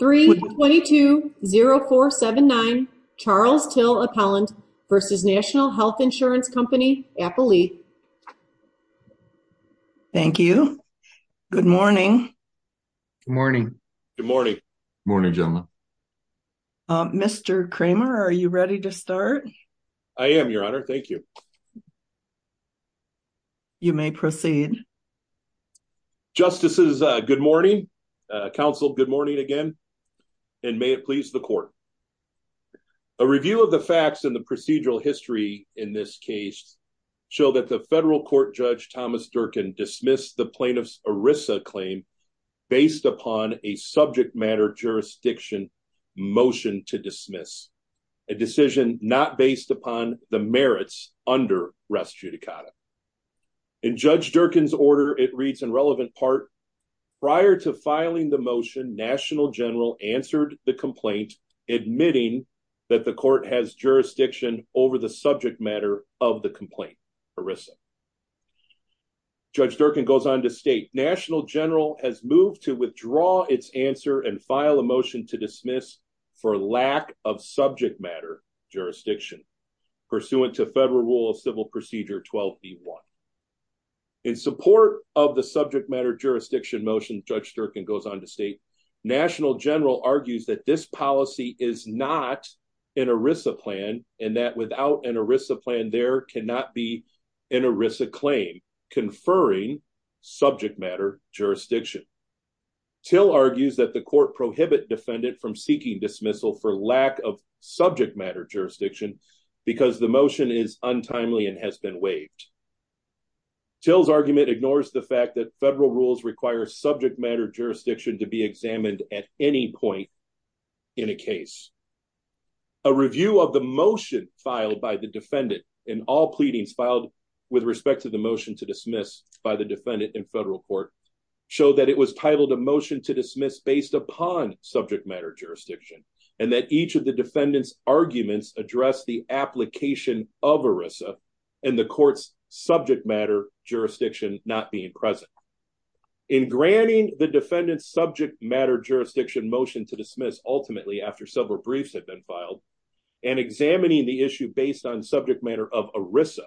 322-0479 Charles Till Appellant v. National Health Insurance Co. Appellee. Thank you. Good morning. Good morning. Good morning. Good morning, gentlemen. Mr. Kramer, are you ready to start? I am, Your Honor. Thank you. You may proceed. Justices, good morning. Counsel, good morning again. And may it please the Court, a review of the facts in the procedural history in this case show that the federal court Judge Thomas Durkin dismissed the plaintiff's ERISA claim based upon a subject matter jurisdiction motion to dismiss, a decision not based upon the merits under res judicata. In Judge Durkin's order, it reads in relevant part, prior to filing the motion, National General answered the complaint, admitting that the court has jurisdiction over the subject matter of the complaint, ERISA. Judge Durkin goes on to state, National General has moved to withdraw its answer and file a motion to dismiss for lack of subject matter jurisdiction pursuant to federal rule of civil procedure 12B1. In support of the subject matter jurisdiction motion, Judge Durkin goes on to state, National General argues that this policy is not an ERISA plan and that without an ERISA plan, there cannot be an ERISA claim conferring subject matter jurisdiction. Till argues that the court prohibit defendant from seeking dismissal for lack of subject matter jurisdiction. Till's argument ignores the fact that federal rules require subject matter jurisdiction to be examined at any point in a case. A review of the motion filed by the defendant in all pleadings filed with respect to the motion to dismiss by the defendant in federal court show that it was titled a motion to dismiss based upon subject matter jurisdiction and that each of the defendant's arguments address the application of ERISA and the court's subject matter jurisdiction not being present. In granting the defendant's subject matter jurisdiction motion to dismiss ultimately after several briefs had been filed and examining the issue based on subject matter of ERISA,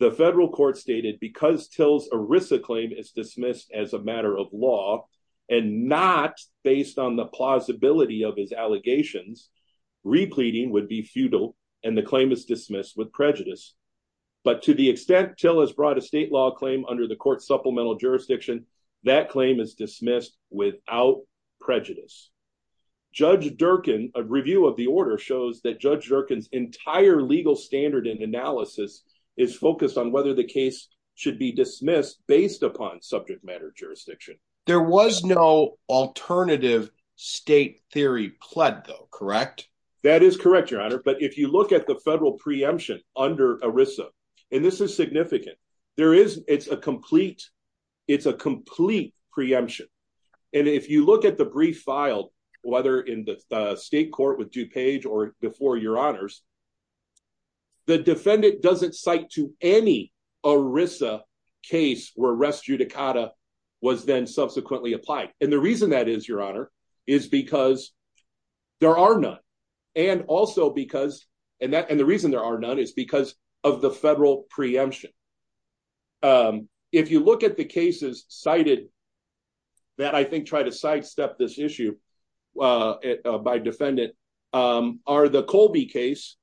the federal court stated because Till's ERISA claim is dismissed as a matter of law and not based on the plausibility of his allegations, repleading would be futile and the claim is dismissed with prejudice. But to the extent Till has brought a state law claim under the court supplemental jurisdiction, that claim is dismissed without prejudice. Judge Durkin, a review of the order shows that Judge Durkin's entire legal standard and analysis is focused on whether the case should be dismissed based upon subject matter jurisdiction. There was no alternative state theory pled though, correct? That is correct, your honor. But if you look at the federal preemption under ERISA, and this is significant, there is it's a complete, it's a complete preemption. And if you look at the brief filed, whether in the state court with DuPage or before your honors, the defendant doesn't cite to any ERISA case where res judicata was then subsequently applied. And the reason that is, your honor, is because there are none. And also because, and the reason there are none is because of the federal preemption. If you look at the cases cited that I think try to sidestep this issue by defendant, are the Colby case.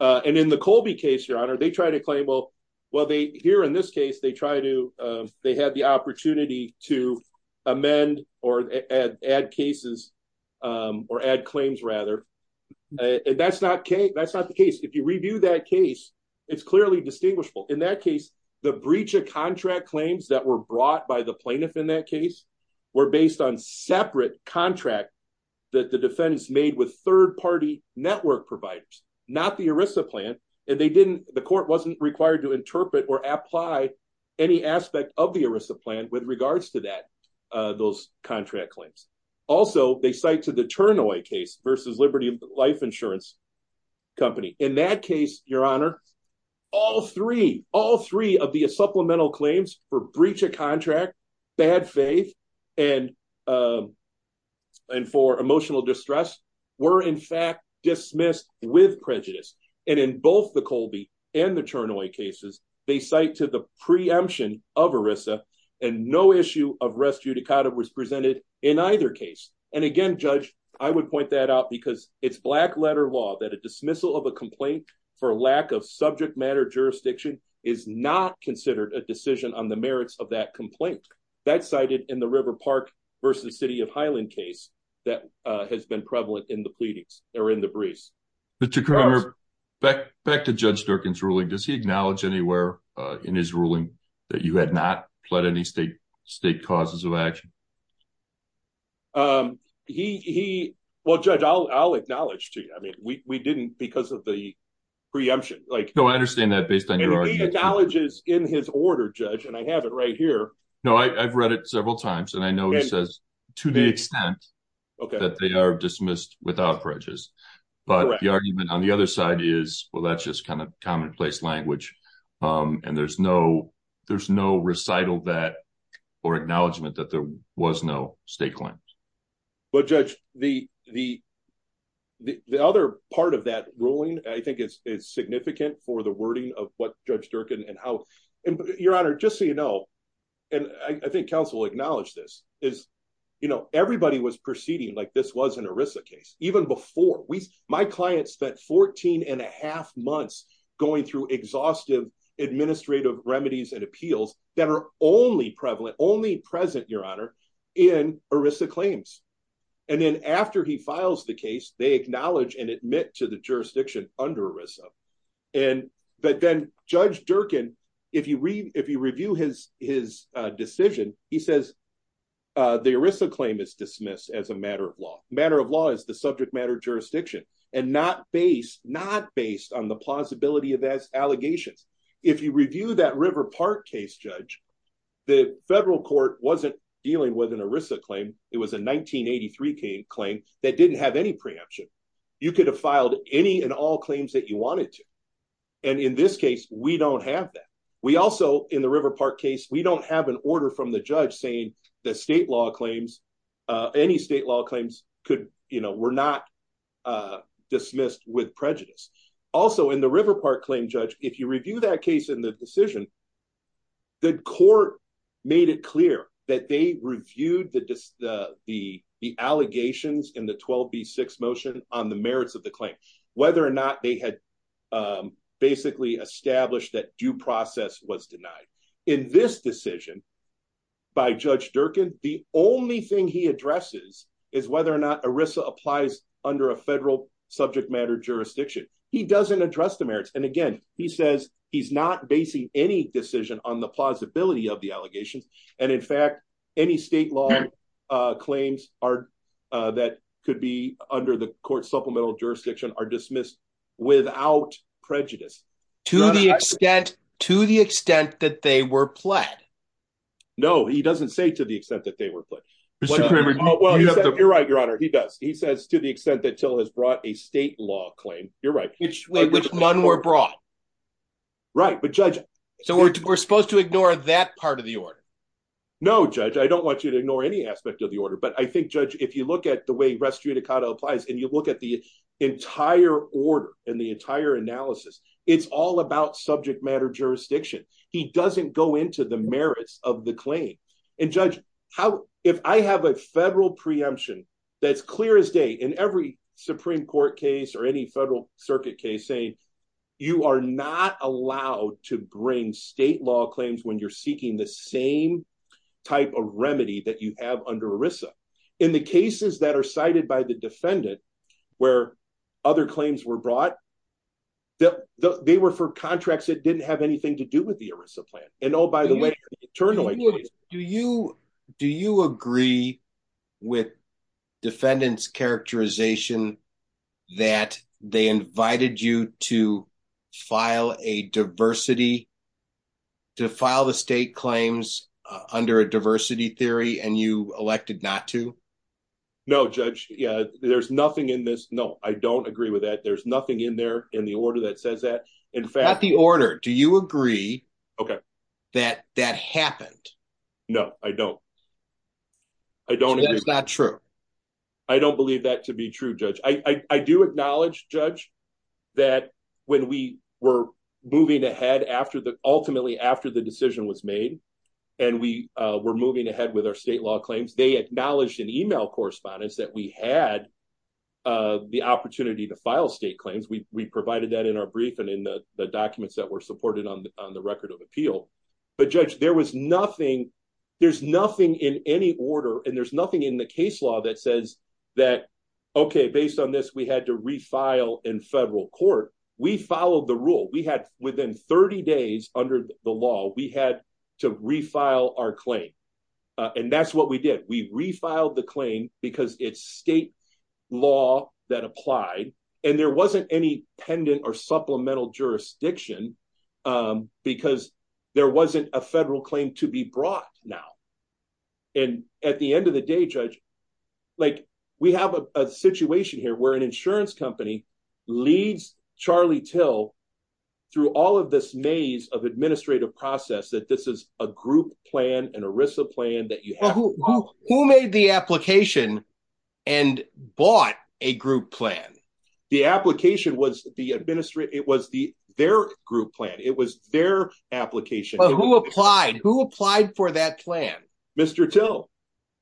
And in the Colby case, your honor, they try to claim well, well, they here in this case, they try to, they had the opportunity to amend or add cases, or add claims rather. And that's not okay. That's not the case. If you review that case, it's clearly distinguishable in that case, the breach of contract claims that were brought by the plaintiff in that case, were based on separate contract that the defendants made with third party network providers, not the ERISA plan. And they didn't, the court wasn't required to interpret or apply any aspect of the ERISA plan with regards to that, those contract claims. Also they cite to the turn away case versus Liberty Life Insurance Company. In that case, your honor, all three, all three of the supplemental claims for breach of contract, bad faith and for emotional distress were in fact dismissed with prejudice. And in both the Colby and the turn away cases, they cite to the preemption of ERISA and no issue of res judicata was presented in either case. And again, judge, I would point that out because it's black letter law that a dismissal of a complaint for lack of subject matter jurisdiction is not considered a decision on the merits of that complaint. That's cited in the River Park versus City of Highland case that has been prevalent in the pleadings or in the briefs. Back to Judge Durkin's ruling, does he acknowledge anywhere in his ruling that you had not pled any state causes of action? He, well, judge, I'll acknowledge to you. I mean, we didn't because of the preemption. No, I understand that based on your argument. He acknowledges in his order, judge, and I have it right here. No, I've read it several times and I know he says to the extent that they are dismissed without prejudice. But the argument on the other side is, well, that's just kind of commonplace language. And there's no, there's no recital that or acknowledgement that there was no state claims. But judge, the other part of that ruling, I think it's significant for the wording of what judge Durkin and how, and your honor, just so you know, and I think council acknowledge this is, you know, everybody was proceeding like this was an Arisa case. Even before we, my clients spent 14 and a half months going through exhaustive administrative remedies and appeals that are only prevalent, only present your honor in Arisa claims. And then after he files the case, they acknowledge and admit to the jurisdiction under Arisa. And, but then judge Durkin, if you read, if you review his, his decision, he says, the Arisa claim is dismissed as a matter of law, matter of law is the subject matter jurisdiction and not based, not based on the plausibility of that allegations. If you review that river park case, judge, the federal court wasn't dealing with an Arisa claim. It was a 1983 claim that didn't have any preemption. You could have filed any and all claims that you wanted to. And in this case, we don't have that. We also in the river park case, we don't have an order from the judge saying the state law claims, any state law claims could, you know, we're not dismissed with prejudice. Also in the river park claim, judge, if you review that case in the decision, the court made it clear that they reviewed the, the, the, the allegations in the 12 B six motion on the merits of the claim, whether or not they had basically established that due process was denied in this decision by judge Durkin. The only thing he addresses is whether or not Arisa applies under a federal subject matter jurisdiction. He doesn't address the merits. And again, he says he's not basing any decision on the plausibility of the allegations. And in fact, any state law claims are that could be under the court supplemental jurisdiction are dismissed without prejudice to the extent, to the extent that they were pled. No, he doesn't say to the extent that they were put, you're right. Your honor. He does. He says to the extent that till has brought a state law claim. You're right. Which one were brought, right? But judge, so we're, we're supposed to ignore that part of the order. No judge. I don't want you to ignore any aspect of the order, but I think judge, if you look at the way rescue Dakota applies and you look at the entire order and the entire analysis, it's all about subject matter jurisdiction. He doesn't go into the merits of the claim and judge how, if I have a federal preemption, that's clear as day in every Supreme court case or any federal circuit case saying you are not allowed to bring state law claims when you're seeking the same type of remedy that you have under ERISA in the cases that are cited by the defendant, where other claims were brought, that they were for contracts that didn't have anything to do with the ERISA plan. And oh, turn away. Do you, do you agree with defendants characterization that they invited you to file a diversity to file the state claims under a diversity theory and you elected not to no judge. Yeah. There's nothing in this. No, I don't agree with that. There's nothing in there in the order that says that. In fact, the order, do you agree that that happened? No, I don't. I don't. It's not true. I don't believe that to be true. Judge. I, I do acknowledge judge that when we were moving ahead after the, ultimately after the decision was made and we were moving ahead with our state law claims, they acknowledged an email correspondence that we had the opportunity to file state claims. We, we provided that in our brief and in the documents that were supported on the record of appeal, but judge, there was nothing. There's nothing in any order and there's nothing in the case law that says that, okay, based on this, we had to refile in federal court. We followed the rule we had within 30 days under the law, we had to refile our claim. And that's what we did. We refiled the claim because it's state law that applied and there wasn't any pendant or supplemental jurisdiction because there wasn't a federal claim to be brought now. And at the end of the day, judge, like we have a situation here where an insurance company leads Charlie till through all of this maze of administrative process, that this is a group plan and ERISA plan that you have. Who made the application and bought a group plan? The application was the administrative. It was the, their group plan. It was their application. Who applied, who applied for that plan? Mr. Till.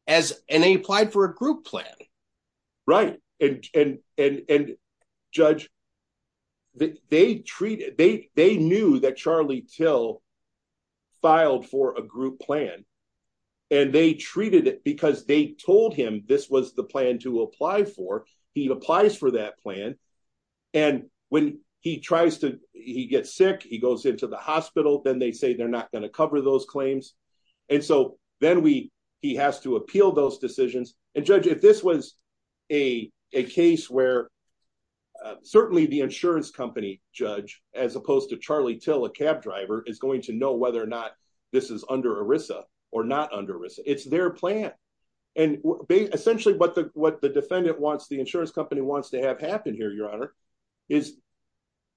As, and they applied for a group plan. Right. And, and, and, and judge they treated, they, they knew that Charlie till filed for a group plan and they treated it because they told him this was the plan to apply for. He applies for that plan. And when he tries to, he gets sick, he goes into the hospital. Then they say, they're not going to cover those claims. And so then we, he has to appeal those decisions. And judge, if this was a case where certainly the insurance company judge, as opposed to Charlie till, a cab driver is going to know whether or not this is under ERISA or not under ERISA. It's their plan. And essentially what the, what the defendant wants, the insurance company wants to have happen here, your honor is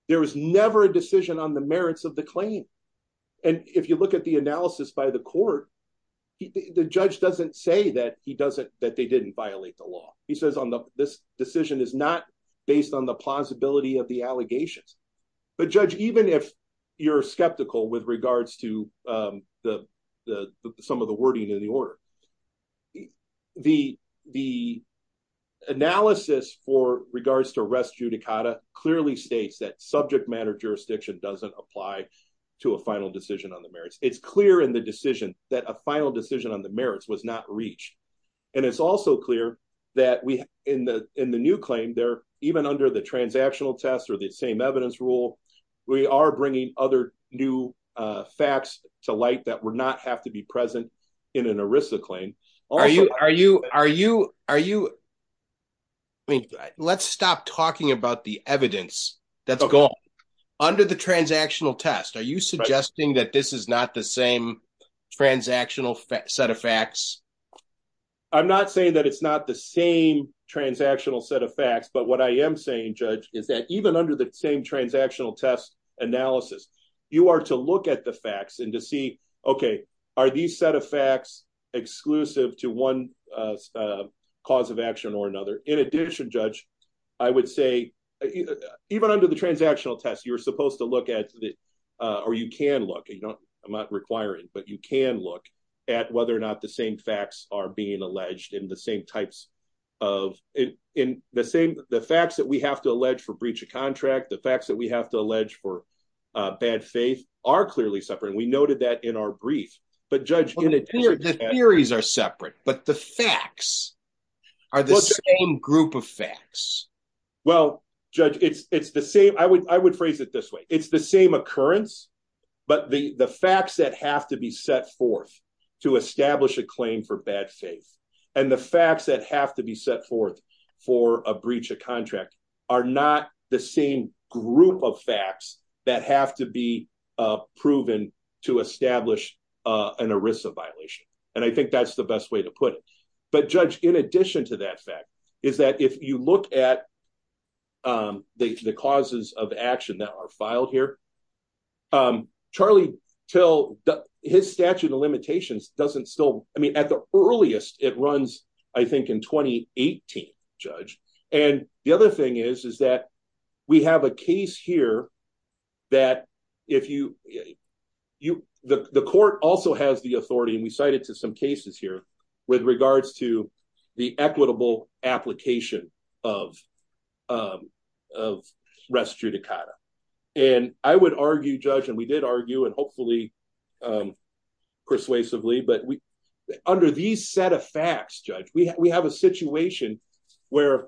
there was never a decision on the merits of the claim. And if you say that he doesn't, that they didn't violate the law, he says on the, this decision is not based on the plausibility of the allegations, but judge, even if you're skeptical with regards to the, the, the, some of the wording in the order, the, the analysis for regards to rest judicata clearly states that subject matter jurisdiction doesn't apply to a final decision on the merits. It's clear in the decision that a final decision on the merits was not reached. And it's also clear that we in the, in the new claim there, even under the transactional test or the same evidence rule, we are bringing other new facts to light that would not have to be present in an ERISA claim. Are you, are you, are you, are you, I mean, let's stop talking about the evidence that's gone under the transactional test. Are you suggesting that this is not the same transactional set of facts? I'm not saying that it's not the same transactional set of facts, but what I am saying, judge, is that even under the same transactional test analysis, you are to look at the facts and to see, okay, are these set of facts exclusive to one cause of action or another? In addition, judge, I would say even under the transactional test, you're supposed to look at the, or you can look, you don't, I'm not requiring, but you can look at whether or not the same facts are being alleged in the same types of, in the same, the facts that we have to allege for breach of contract, the facts that we have to allege for bad faith are clearly separate. We noted that in our brief, but judge, the theories are separate, but the facts are the same group of facts. Well, judge, it's, it's the same. I would, I would phrase it this way. It's the same occurrence, but the, the facts that have to be set forth to establish a claim for bad faith and the facts that have to be set forth for a breach of contract are not the same group of facts that have to be proven to establish an ERISA violation. And I think that's the best way to put it. But judge, in addition to that fact, is that if you look at the causes of action that are filed here, Charlie Till, his statute of limitations doesn't still, I mean, at the earliest it runs, I think in 2018, judge. And the other thing is, is that we have a case here that if you, you, the court also has the authority, and we cited to some cases here with regards to the equitable application of rest judicata. And I would argue, judge, and we did argue and hopefully persuasively, but under these set of facts, we have a situation where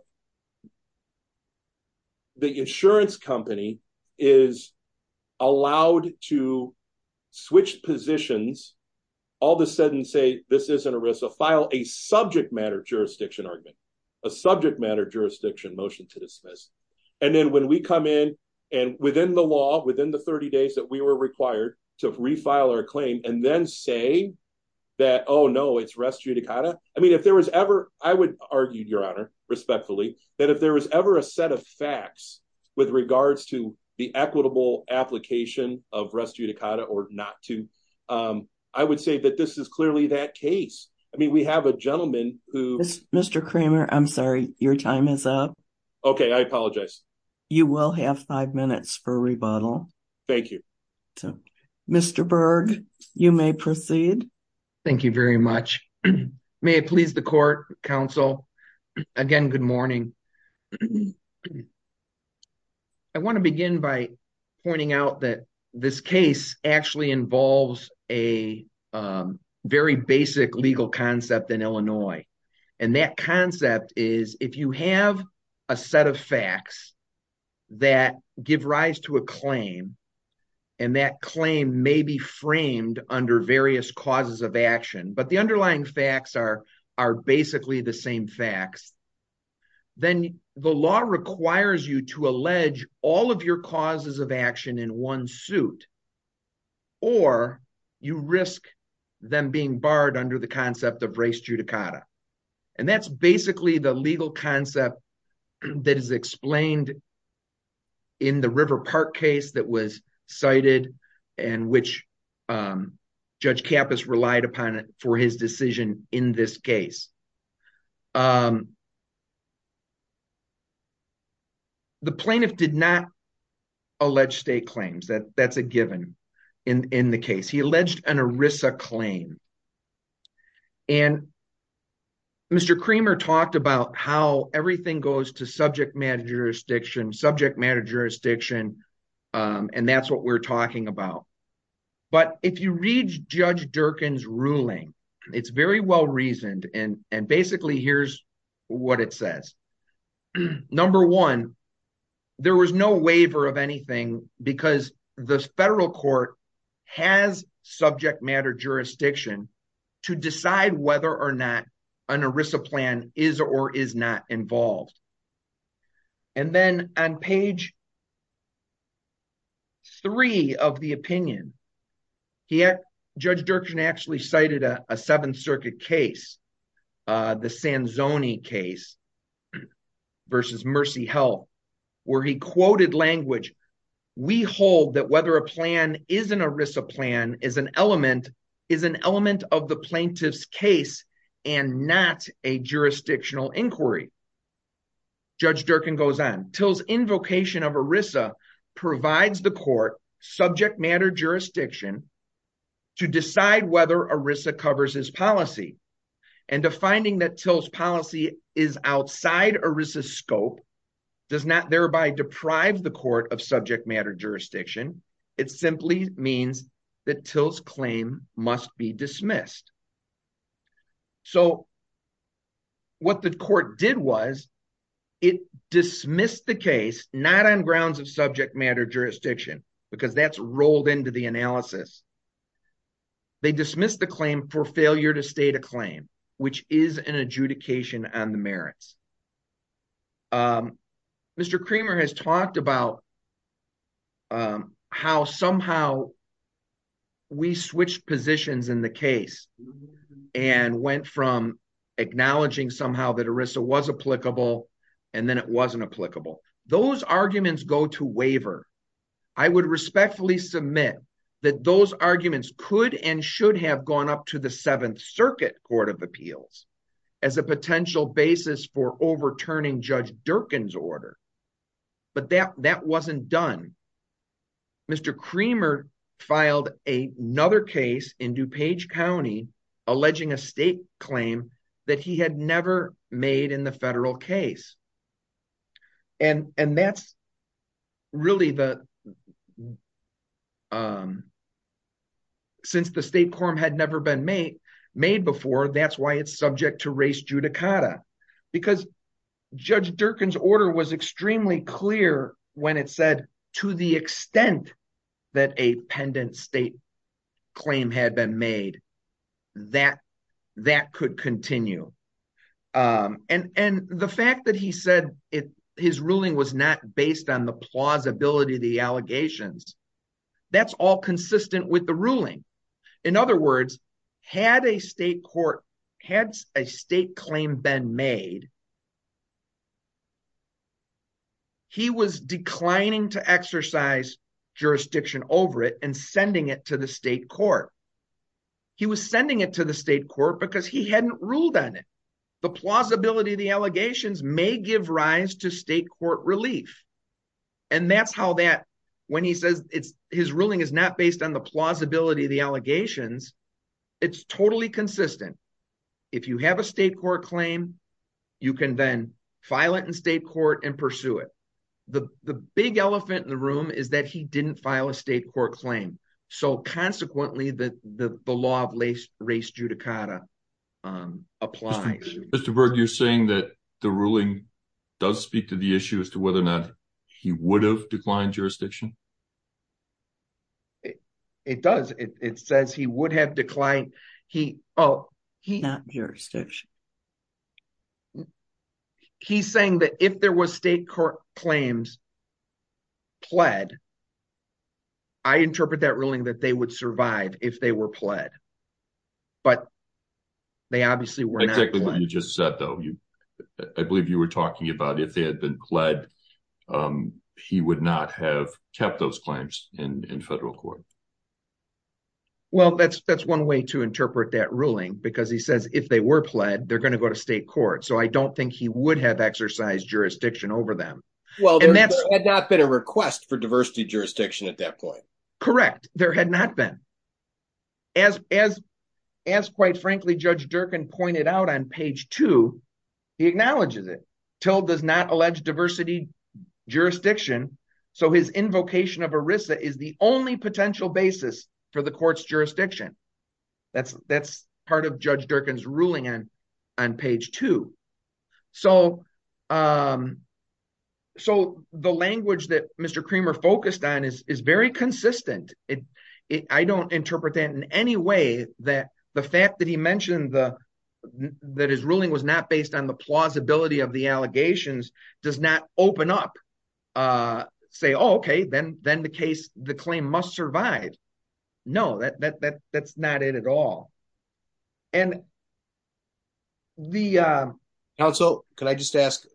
the insurance company is allowed to switch positions, all of a sudden say, this isn't ERISA, file a subject matter jurisdiction argument, a subject matter jurisdiction motion to dismiss. And then when we come in and within the law, within the 30 days that we were required to refile our claim and then say that, oh no, it's rest judicata. I mean, if there was ever, I would argue your honor, respectfully, that if there was ever a set of facts with regards to the equitable application of rest judicata or not to, I would say that this is clearly that case. I mean, we have a gentleman who- Mr. Kramer, I'm sorry, your time is up. Okay, I apologize. You will have five minutes for rebuttal. Thank you. Mr. Berg, you may proceed. Thank you very much. May it please the court, counsel, again, good morning. I want to begin by pointing out that this case actually involves a very basic legal concept in Illinois. And that concept is if you have a set of facts that give rise to a claim, and that claim may be framed under various causes of action, but the underlying facts are basically the same facts, then the law requires you to allege all of your causes of action in one suit, or you risk them being barred under the concept of rest judicata. And that's basically the legal concept that is explained in the River Park case that was cited and which Judge Kappas relied upon for his decision in this case. The plaintiff did not allege state claims. That's a given in the case. He alleged an ERISA claim. And Mr. Creamer talked about how everything goes to subject matter jurisdiction, subject matter jurisdiction. And that's what we're talking about. But if you read Judge Durkin's ruling, it's very well reasoned. And basically, here's what it says. Number one, there was no waiver of anything because the federal court has subject matter jurisdiction to decide whether or not an ERISA plan is or is not involved. And then on page three of the opinion, Judge Durkin actually cited a Seventh Circuit case, the Sanzoni case versus Mercy Health, where he quoted language, we hold that whether a plan is an ERISA plan is an element of the plaintiff's case and not a jurisdictional inquiry. Judge Durkin goes on, Till's invocation of ERISA provides the court subject matter jurisdiction to decide whether ERISA covers his policy. And defining that Till's policy is outside ERISA's scope does not thereby deprive the court of subject matter jurisdiction. It simply means that Till's claim must be dismissed. So what the court did was, it dismissed the case, not on grounds of subject matter jurisdiction, because that's rolled into the analysis. They dismissed the claim for failure to state a claim, which is an adjudication on the merits. Mr. Creamer has talked about how somehow we switched positions in the case and went from acknowledging somehow that ERISA was applicable, and then it wasn't applicable. Those arguments go to waiver. I would respectfully submit that those arguments could and should have gone up to the Seventh Circuit Court of Appeals as a potential basis for overturning Judge Durkin's order, but that wasn't done. Mr. Creamer filed another case in DuPage County, alleging a state claim that he had never made in the federal case. And that's really the, since the state quorum had never been made before, that's why it's subject to race judicata. Because Judge Durkin's order was extremely clear when it said, to the extent that a pendant state claim had been made, that could continue. And the fact that he said his ruling was not based on the plausibility of the allegations, that's all consistent with the ruling. In other words, had a state court, had a state claim been made, he was declining to exercise jurisdiction over it and sending it to the state court. He was sending it to the state court because he hadn't ruled on it. The plausibility of the allegations may give rise to state court relief. And that's how that, when he says his ruling is not based on the plausibility of the allegations, it's totally consistent. If you have a state court claim, you can then file it in state court and pursue it. The big elephant in the room is that he didn't file a state court claim. So consequently, the law of race judicata applies. Mr. Berg, you're saying that the ruling does speak to the issue as to whether or not he would have declined jurisdiction? It does. It says he would have declined. He, oh, he's saying that if there was state court claims pled, I interpret that ruling that they would survive if they were pled. But they obviously were not pled. Exactly what you just said, though. I believe you were talking about if they had been pled, he would not have kept those claims in federal court. Well, that's one way to interpret that ruling, because he says if they were pled, they're going to go to state court. So I don't think he would have exercised jurisdiction over them. Well, there had not been a request for diversity jurisdiction at that point. Correct. There had not been. As quite frankly, Judge Durkin pointed out on page two, he acknowledges it. Till does not allege diversity jurisdiction. So his invocation of ERISA is the only potential basis for the court's jurisdiction. That's part of Judge Durkin's ruling on page two. So so the language that Mr. Creamer focused on is very consistent. I don't interpret that in any way that the fact that he mentioned the that his ruling was not based on the plausibility of the allegations does not open up, say, OK, then then the case, the claim must survive. No, that that's not it at all. And. The counsel, can I just ask?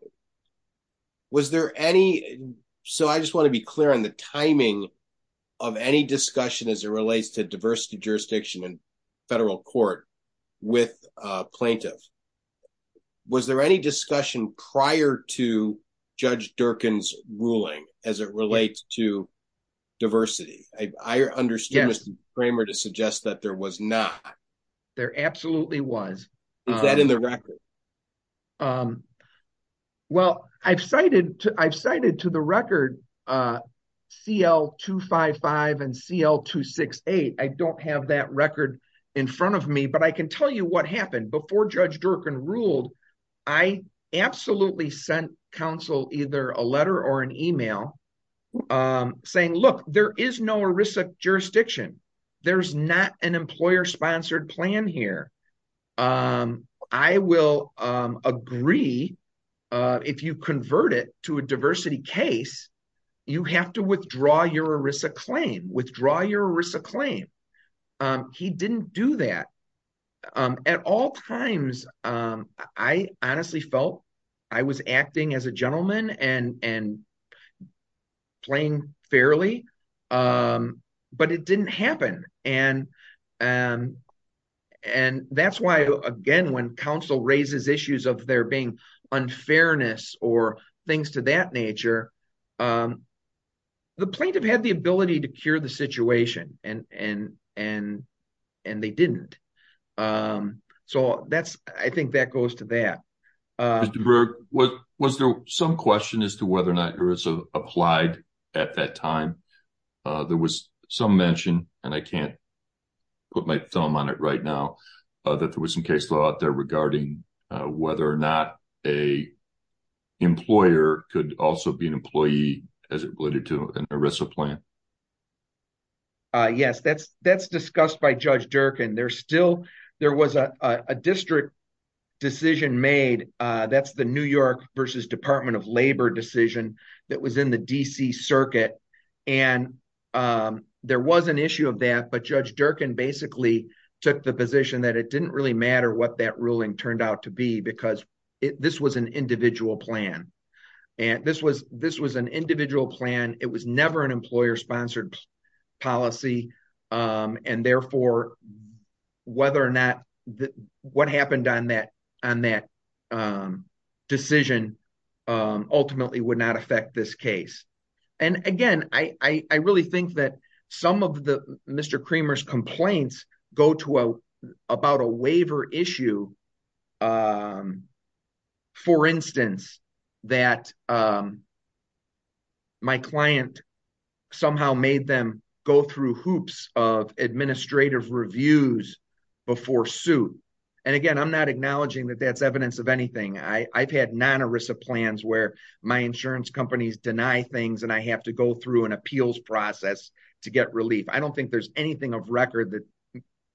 Was there any? So I just want to be clear on the timing of any discussion as it relates to diversity jurisdiction and federal court with plaintiffs. Was there any discussion prior to Judge Durkin's ruling as it relates to diversity? I understand Mr. Creamer to suggest that there was not. There absolutely was. Is that in the record? Well, I've cited I've cited to the record CL255 and CL268. I don't have that record in front of me, but I can tell you what happened before Judge Durkin ruled. I absolutely sent counsel either a letter or an email saying, look, there is no ERISA jurisdiction. There's not an employer sponsored plan here. I will agree if you convert it to a diversity case, you have to withdraw your ERISA claim, withdraw your ERISA claim. He didn't do that at all times. I honestly felt I was acting as a gentleman and and playing fairly, but it didn't happen. And and that's why, again, when counsel raises issues of there being unfairness or things to that nature. The plaintiff had the ability to cure the situation and and and and they didn't. So that's I think that goes to that. Was there some question as to whether or not ERISA applied at that time? There was some mention, and I can't put my thumb on it right now, that there was some case law out there regarding whether or not a employer could also be an employee as it related to an ERISA plan. Yes, that's that's discussed by Judge Durkin. There still there was a district decision made. That's the New York versus Department of Labor decision that was in the D.C. Circuit. And there was an issue of that. But Judge Durkin basically took the position that it didn't really matter what that ruling turned out to be, because this was an individual plan. And this was this was an individual plan. It was never an employer sponsored policy. And therefore, whether or not what happened on that on that decision ultimately would not affect this case. And again, I really think that some of the Mr. Creamer's complaints go to about a waiver issue. For instance, that my client somehow made them go through hoops of administrative reviews before suit. And again, I'm not acknowledging that that's evidence of anything. I've had non ERISA plans where my insurance companies deny things and I have to go through an appeals process to get relief. I don't think there's anything of record that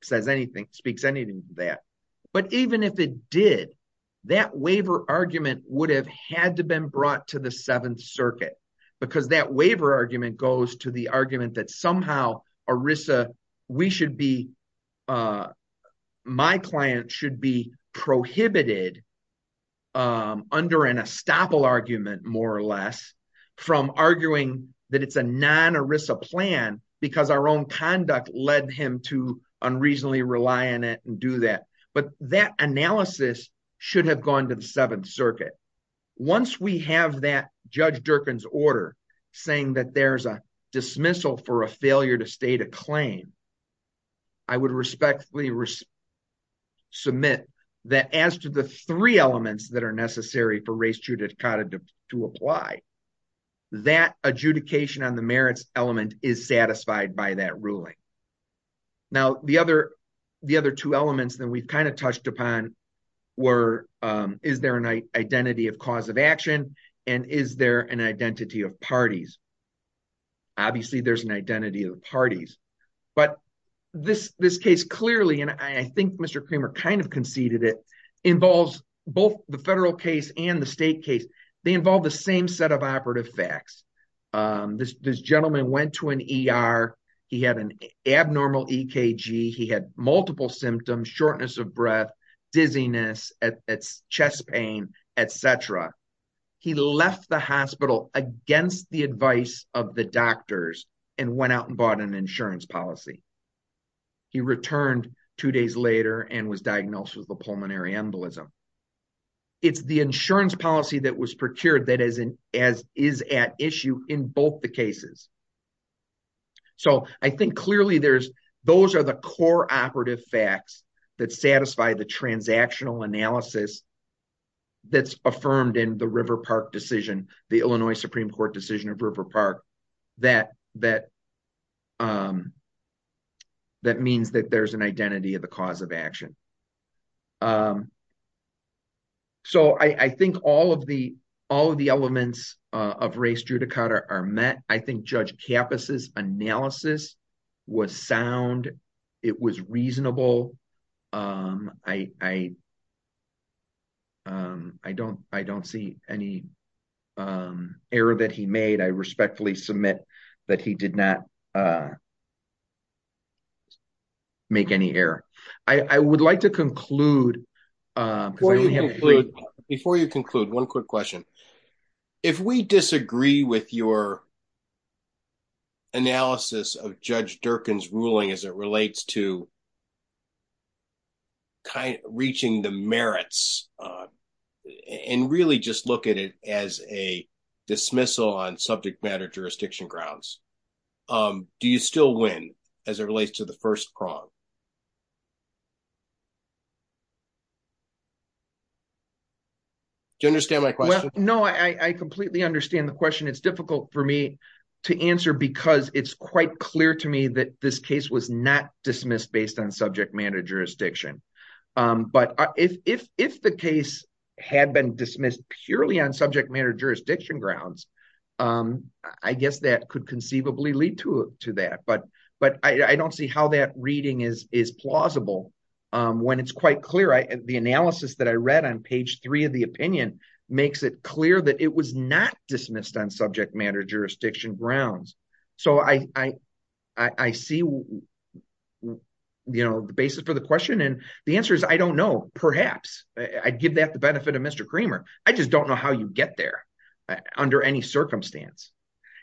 says anything speaks anything to that. But even if it did, that waiver argument would have had to been brought to the Seventh Circuit because that waiver argument goes to the argument that somehow ERISA, we should be my client should be prohibited. Under an estoppel argument, more or less, from arguing that it's a non ERISA plan because our own conduct led him to unreasonably rely on do that. But that analysis should have gone to the Seventh Circuit. Once we have that Judge Durkin's order saying that there's a dismissal for a failure to state a claim, I would respectfully submit that as to the three elements that are necessary for race to apply, that adjudication on the merits element is satisfied by that ruling. Now, the other two elements that we've kind of touched upon were, is there an identity of cause of action and is there an identity of parties? Obviously, there's an identity of parties, but this case clearly, and I think Mr. Creamer kind of conceded it, involves both the federal case and the state case. They involve the same set of operative facts. This gentleman went to an ER, he had an abnormal EKG, he had multiple symptoms, shortness of breath, dizziness, chest pain, et cetera. He left the hospital against the advice of the doctors and went out and bought an insurance policy. He returned two days later and was diagnosed with a pulmonary embolism. It's the insurance policy that was procured that is at issue in both the cases. I think clearly those are the core operative facts that satisfy the transactional analysis that's affirmed in the River Park decision, the Illinois Supreme Court decision of River Park, that means that there's an identity of the cause of action. I think all of the elements of race judicata are met. I think Judge Kappas' analysis was sound. It was reasonable. I don't see any error that he made. I respectfully submit that he did not make any error. I would like to conclude. Before you conclude, one quick question. If we disagree with your analysis of Judge Durkin's ruling as it relates to reaching the merits and really just look at it as a dismissal on subject matter jurisdiction grounds, do you still win as it relates to the first prong? Do you understand my question? No, I completely understand the question. It's difficult for me to answer because it's quite clear to me that this case was not dismissed based on subject matter jurisdiction. If the case had been dismissed purely on subject matter jurisdiction grounds, I guess that could conceivably lead to that. I don't see how that reading is plausible when it's quite clear. The analysis that I read on page three of the opinion makes it clear that it was not dismissed on subject matter jurisdiction grounds. I see the basis for the question. The answer is I don't know, perhaps. I'd give that the benefit of Mr. Kramer. I just don't know how you get there under any circumstance.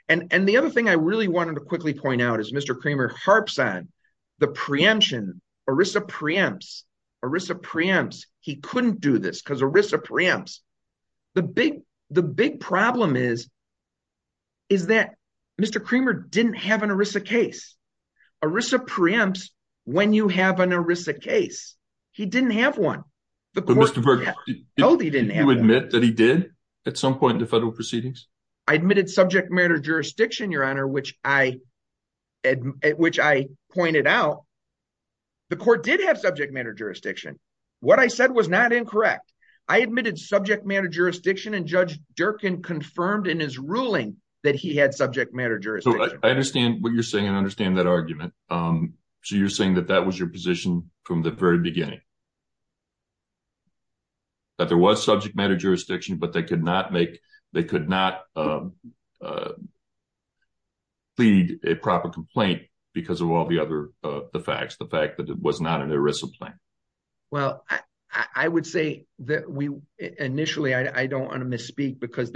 The other thing I really wanted to quickly point out is Mr. Kramer harps on the preemption. ERISA preempts. He couldn't do this because ERISA preempts. The big problem is that Mr. Kramer didn't have an ERISA case. ERISA preempts when you have an ERISA case. He didn't have one. Mr. Burke, did you admit that he did at some point in the federal proceedings? I admitted subject matter jurisdiction, your honor, which I pointed out. The court did have subject matter jurisdiction. What I said was not incorrect. I admitted subject matter jurisdiction and Judge Durkin confirmed in his ruling that he had subject matter jurisdiction. I understand what you're saying. I understand that argument. You're saying that that was your position from the very beginning, that there was subject matter jurisdiction, but they could not plead a proper complaint because of all the other facts, the fact that it was not an ERISA claim. Initially, I don't want to say that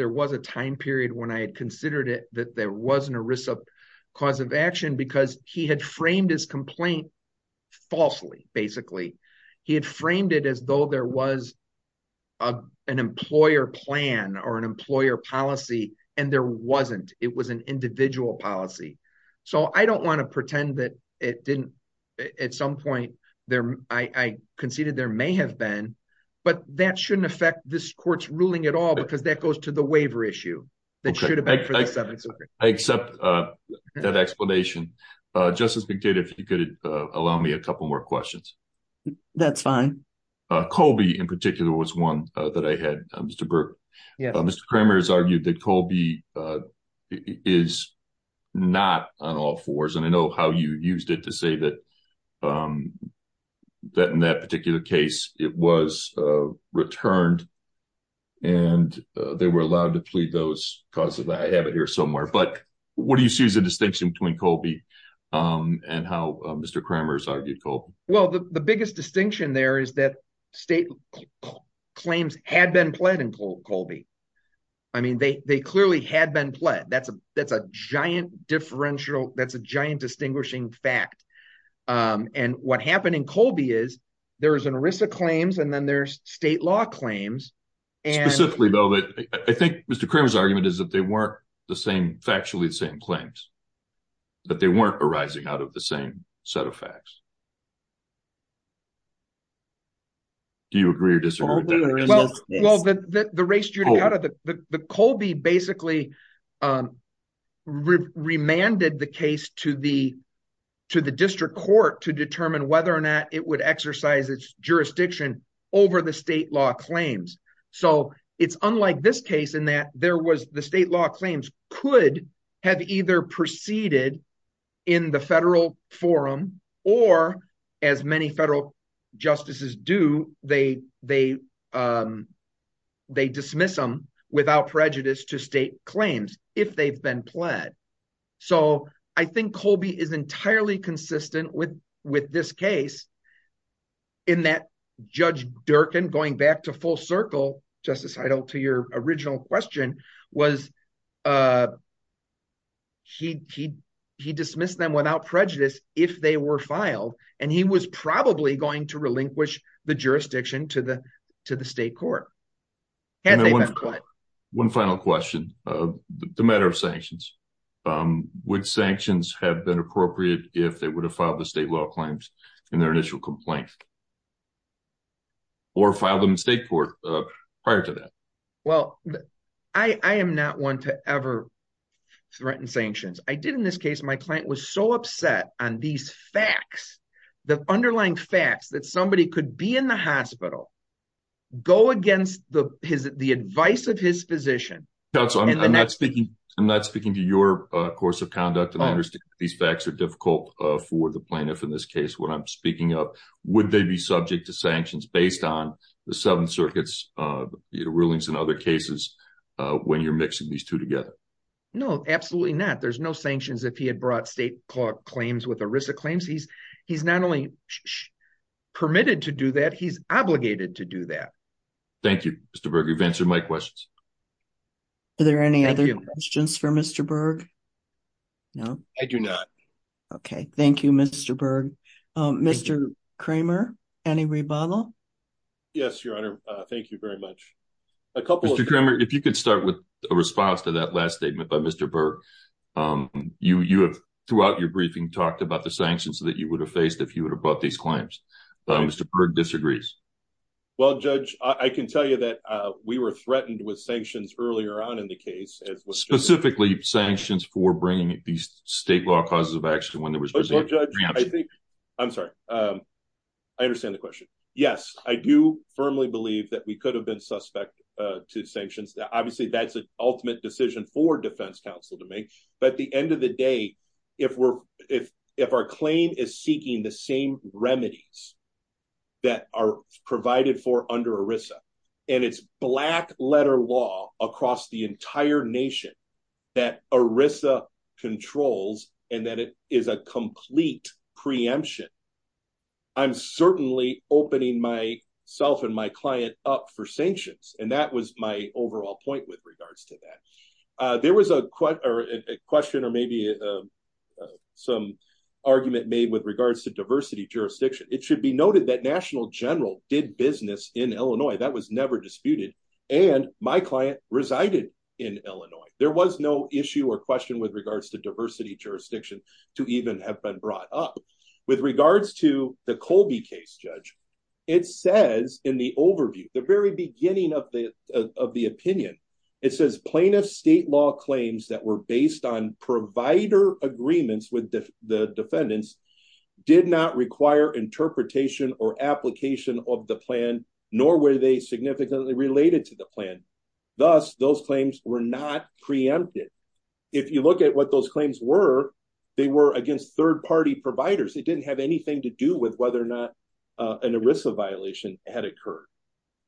there was an ERISA cause of action because he had framed his complaint falsely. Basically, he had framed it as though there was an employer plan or an employer policy, and there wasn't. It was an individual policy. I don't want to pretend that it didn't. At some point, I conceded there may have been, but that shouldn't affect this court's ruling at all that should affect this subject matter jurisdiction. I accept that explanation. Justice McDade, if you could allow me a couple more questions. That's fine. Colby, in particular, was one that I had, Mr. Burke. Mr. Cramer has argued that Colby is not on all fours, and I know how you used it to say that in that particular case, it was returned and they were allowed to cause it. I have it here somewhere. What do you see as the distinction between Colby and how Mr. Cramer has argued Colby? The biggest distinction there is that state claims had been pled in Colby. They clearly had been pled. That's a giant distinguishing fact. What happened in Colby is there was an ERISA claims and then there's state law claims. Specifically, though, I think Mr. Cramer's argument is that they weren't the same, factually the same claims, that they weren't arising out of the same set of facts. Do you agree or disagree with that? Colby basically remanded the case to the district court to determine whether or not it would exercise its jurisdiction over the state law claims. It's unlike this case in that the state law claims could have either proceeded in the federal forum or as many federal justices do, they dismiss them without prejudice to state claims if they've been pled. I think Colby is entirely consistent with this case in that Judge Durkin, going back to full circle, Justice Heidel, to your original question was he dismissed them without prejudice if they were filed and he was probably going to relinquish the jurisdiction to the state court. One final question, the matter of sanctions. Would sanctions have been appropriate if they would have filed the state law claims in their initial complaint or filed them in state court prior to that? Well, I am not one to ever threaten sanctions. I did in this case, my client was so upset on these facts, the underlying facts that somebody could be in the hospital, go against the advice of his physician. I'm not speaking to a course of conduct and I understand these facts are difficult for the plaintiff in this case when I'm speaking up. Would they be subject to sanctions based on the seven circuits, rulings and other cases when you're mixing these two together? No, absolutely not. There's no sanctions if he had brought state claims with ERISA claims. He's not only permitted to do that, he's obligated to do that. Thank you, Mr. Berger. You've answered my questions. Are there any other questions for Mr. Berger? No, I do not. Okay. Thank you, Mr. Berger. Mr. Kramer, any rebuttal? Yes, Your Honor. Thank you very much. Mr. Kramer, if you could start with a response to that last statement by Mr. Berger. Throughout your briefing, you talked about the sanctions that you would have faced if you would have brought these claims. Mr. Berger disagrees. Well, Judge, I can tell you that we were threatened with sanctions earlier on in the case. Specifically sanctions for bringing these state law causes of action when there was... I'm sorry. I understand the question. Yes, I do firmly believe that we could have been suspect to sanctions. Obviously, that's an ultimate decision for defense counsel to make. But at the end of the day, if our claim is seeking the same remedies that are provided for under ERISA and it's black letter law across the entire nation that ERISA controls and that it is a complete preemption, I'm certainly opening myself and my client up for sanctions. That was my overall point with regards to that. There was a question or maybe some argument made with regards to diversity jurisdiction. It should be noted that National General did business in Illinois. That was never disputed. And my client resided in Illinois. There was no issue or question with regards to diversity jurisdiction to even have been brought up. With regards to the Colby case, Judge, it says in the overview, the very beginning of the opinion, it says plaintiff state law claims that were based on provider agreements with the defendants did not require interpretation or application of the plan, nor were they significantly related to the plan. Thus, those claims were not preempted. If you look at what those claims were, they were against third party providers. It didn't have anything to do with whether or not an ERISA violation had occurred.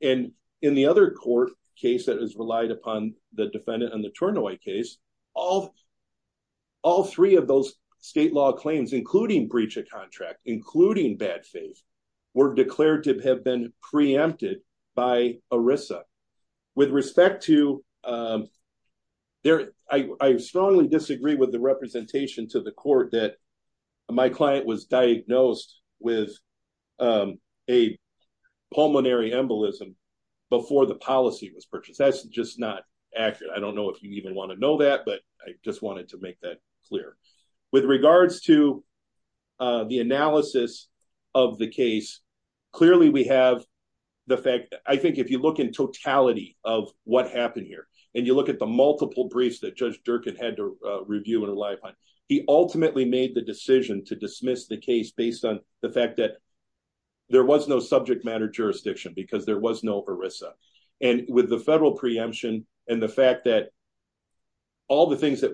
And in the other court case that was relied upon the defendant on the Turnaway case, all three of those state law claims, including breach of contract, including bad faith, were declared to have been preempted by ERISA. With respect to, I strongly disagree with the my client was diagnosed with a pulmonary embolism before the policy was purchased. That's just not accurate. I don't know if you even want to know that, but I just wanted to make that clear. With regards to the analysis of the case, clearly we have the fact, I think if you look in totality of what happened here, and you look at the multiple briefs that Judge Durkin had to dismiss the case based on the fact that there was no subject matter jurisdiction, because there was no ERISA. And with the federal preemption, and the fact that all the things that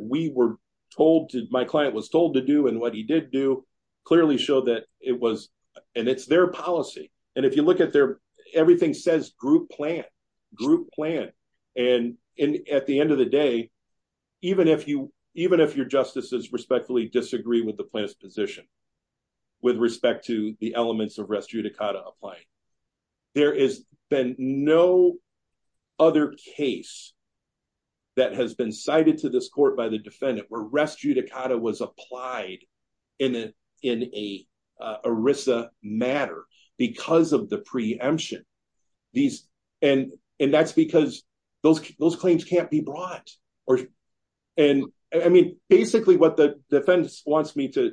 my client was told to do, and what he did do, clearly showed that it was, and it's their policy. And if you look at there, everything says group plan, group plan. And at end of the day, even if your justices respectfully disagree with the plaintiff's position, with respect to the elements of res judicata applied, there has been no other case that has been cited to this court by the defendant where res judicata was applied in an ERISA matter, because of the preemption. And that's because those claims can't be brought. And I mean, basically what the defense wants me to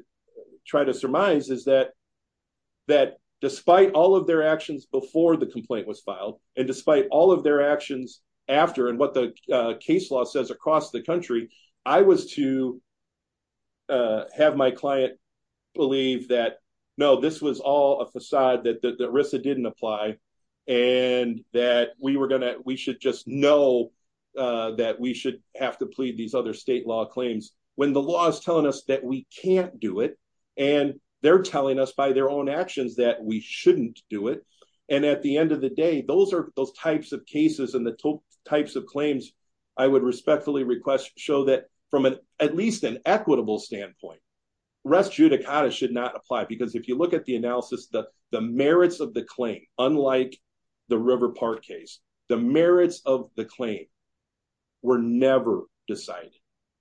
try to surmise is that, that despite all of their actions before the complaint was filed, and despite all of their my client believe that, no, this was all a facade that the ERISA didn't apply. And that we were going to, we should just know that we should have to plead these other state law claims, when the law is telling us that we can't do it. And they're telling us by their own actions that we shouldn't do it. And at the end of the day, those are those types of cases and the types of claims, I would respectfully request show that from an at least an equitable standpoint, res judicata should not apply. Because if you look at the analysis that the merits of the claim, unlike the River Park case, the merits of the claim were never decided.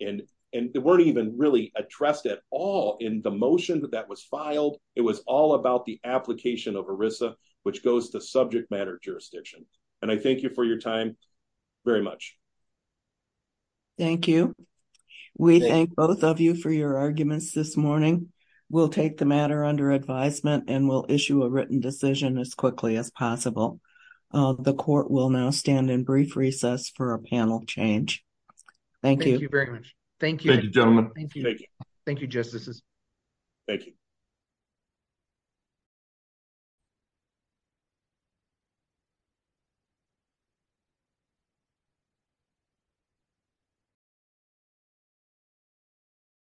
And, and they weren't even really addressed at all in the motion that that was filed. It was all about the application of ERISA, which goes to subject matter jurisdiction. And I thank you for your time very much. Thank you. We thank both of you for your arguments this morning. We'll take the matter under advisement and we'll issue a written decision as quickly as possible. The court will now stand in brief recess for a panel change. Thank you very much. Thank you. Thank you, justices. Thank you. Thank you.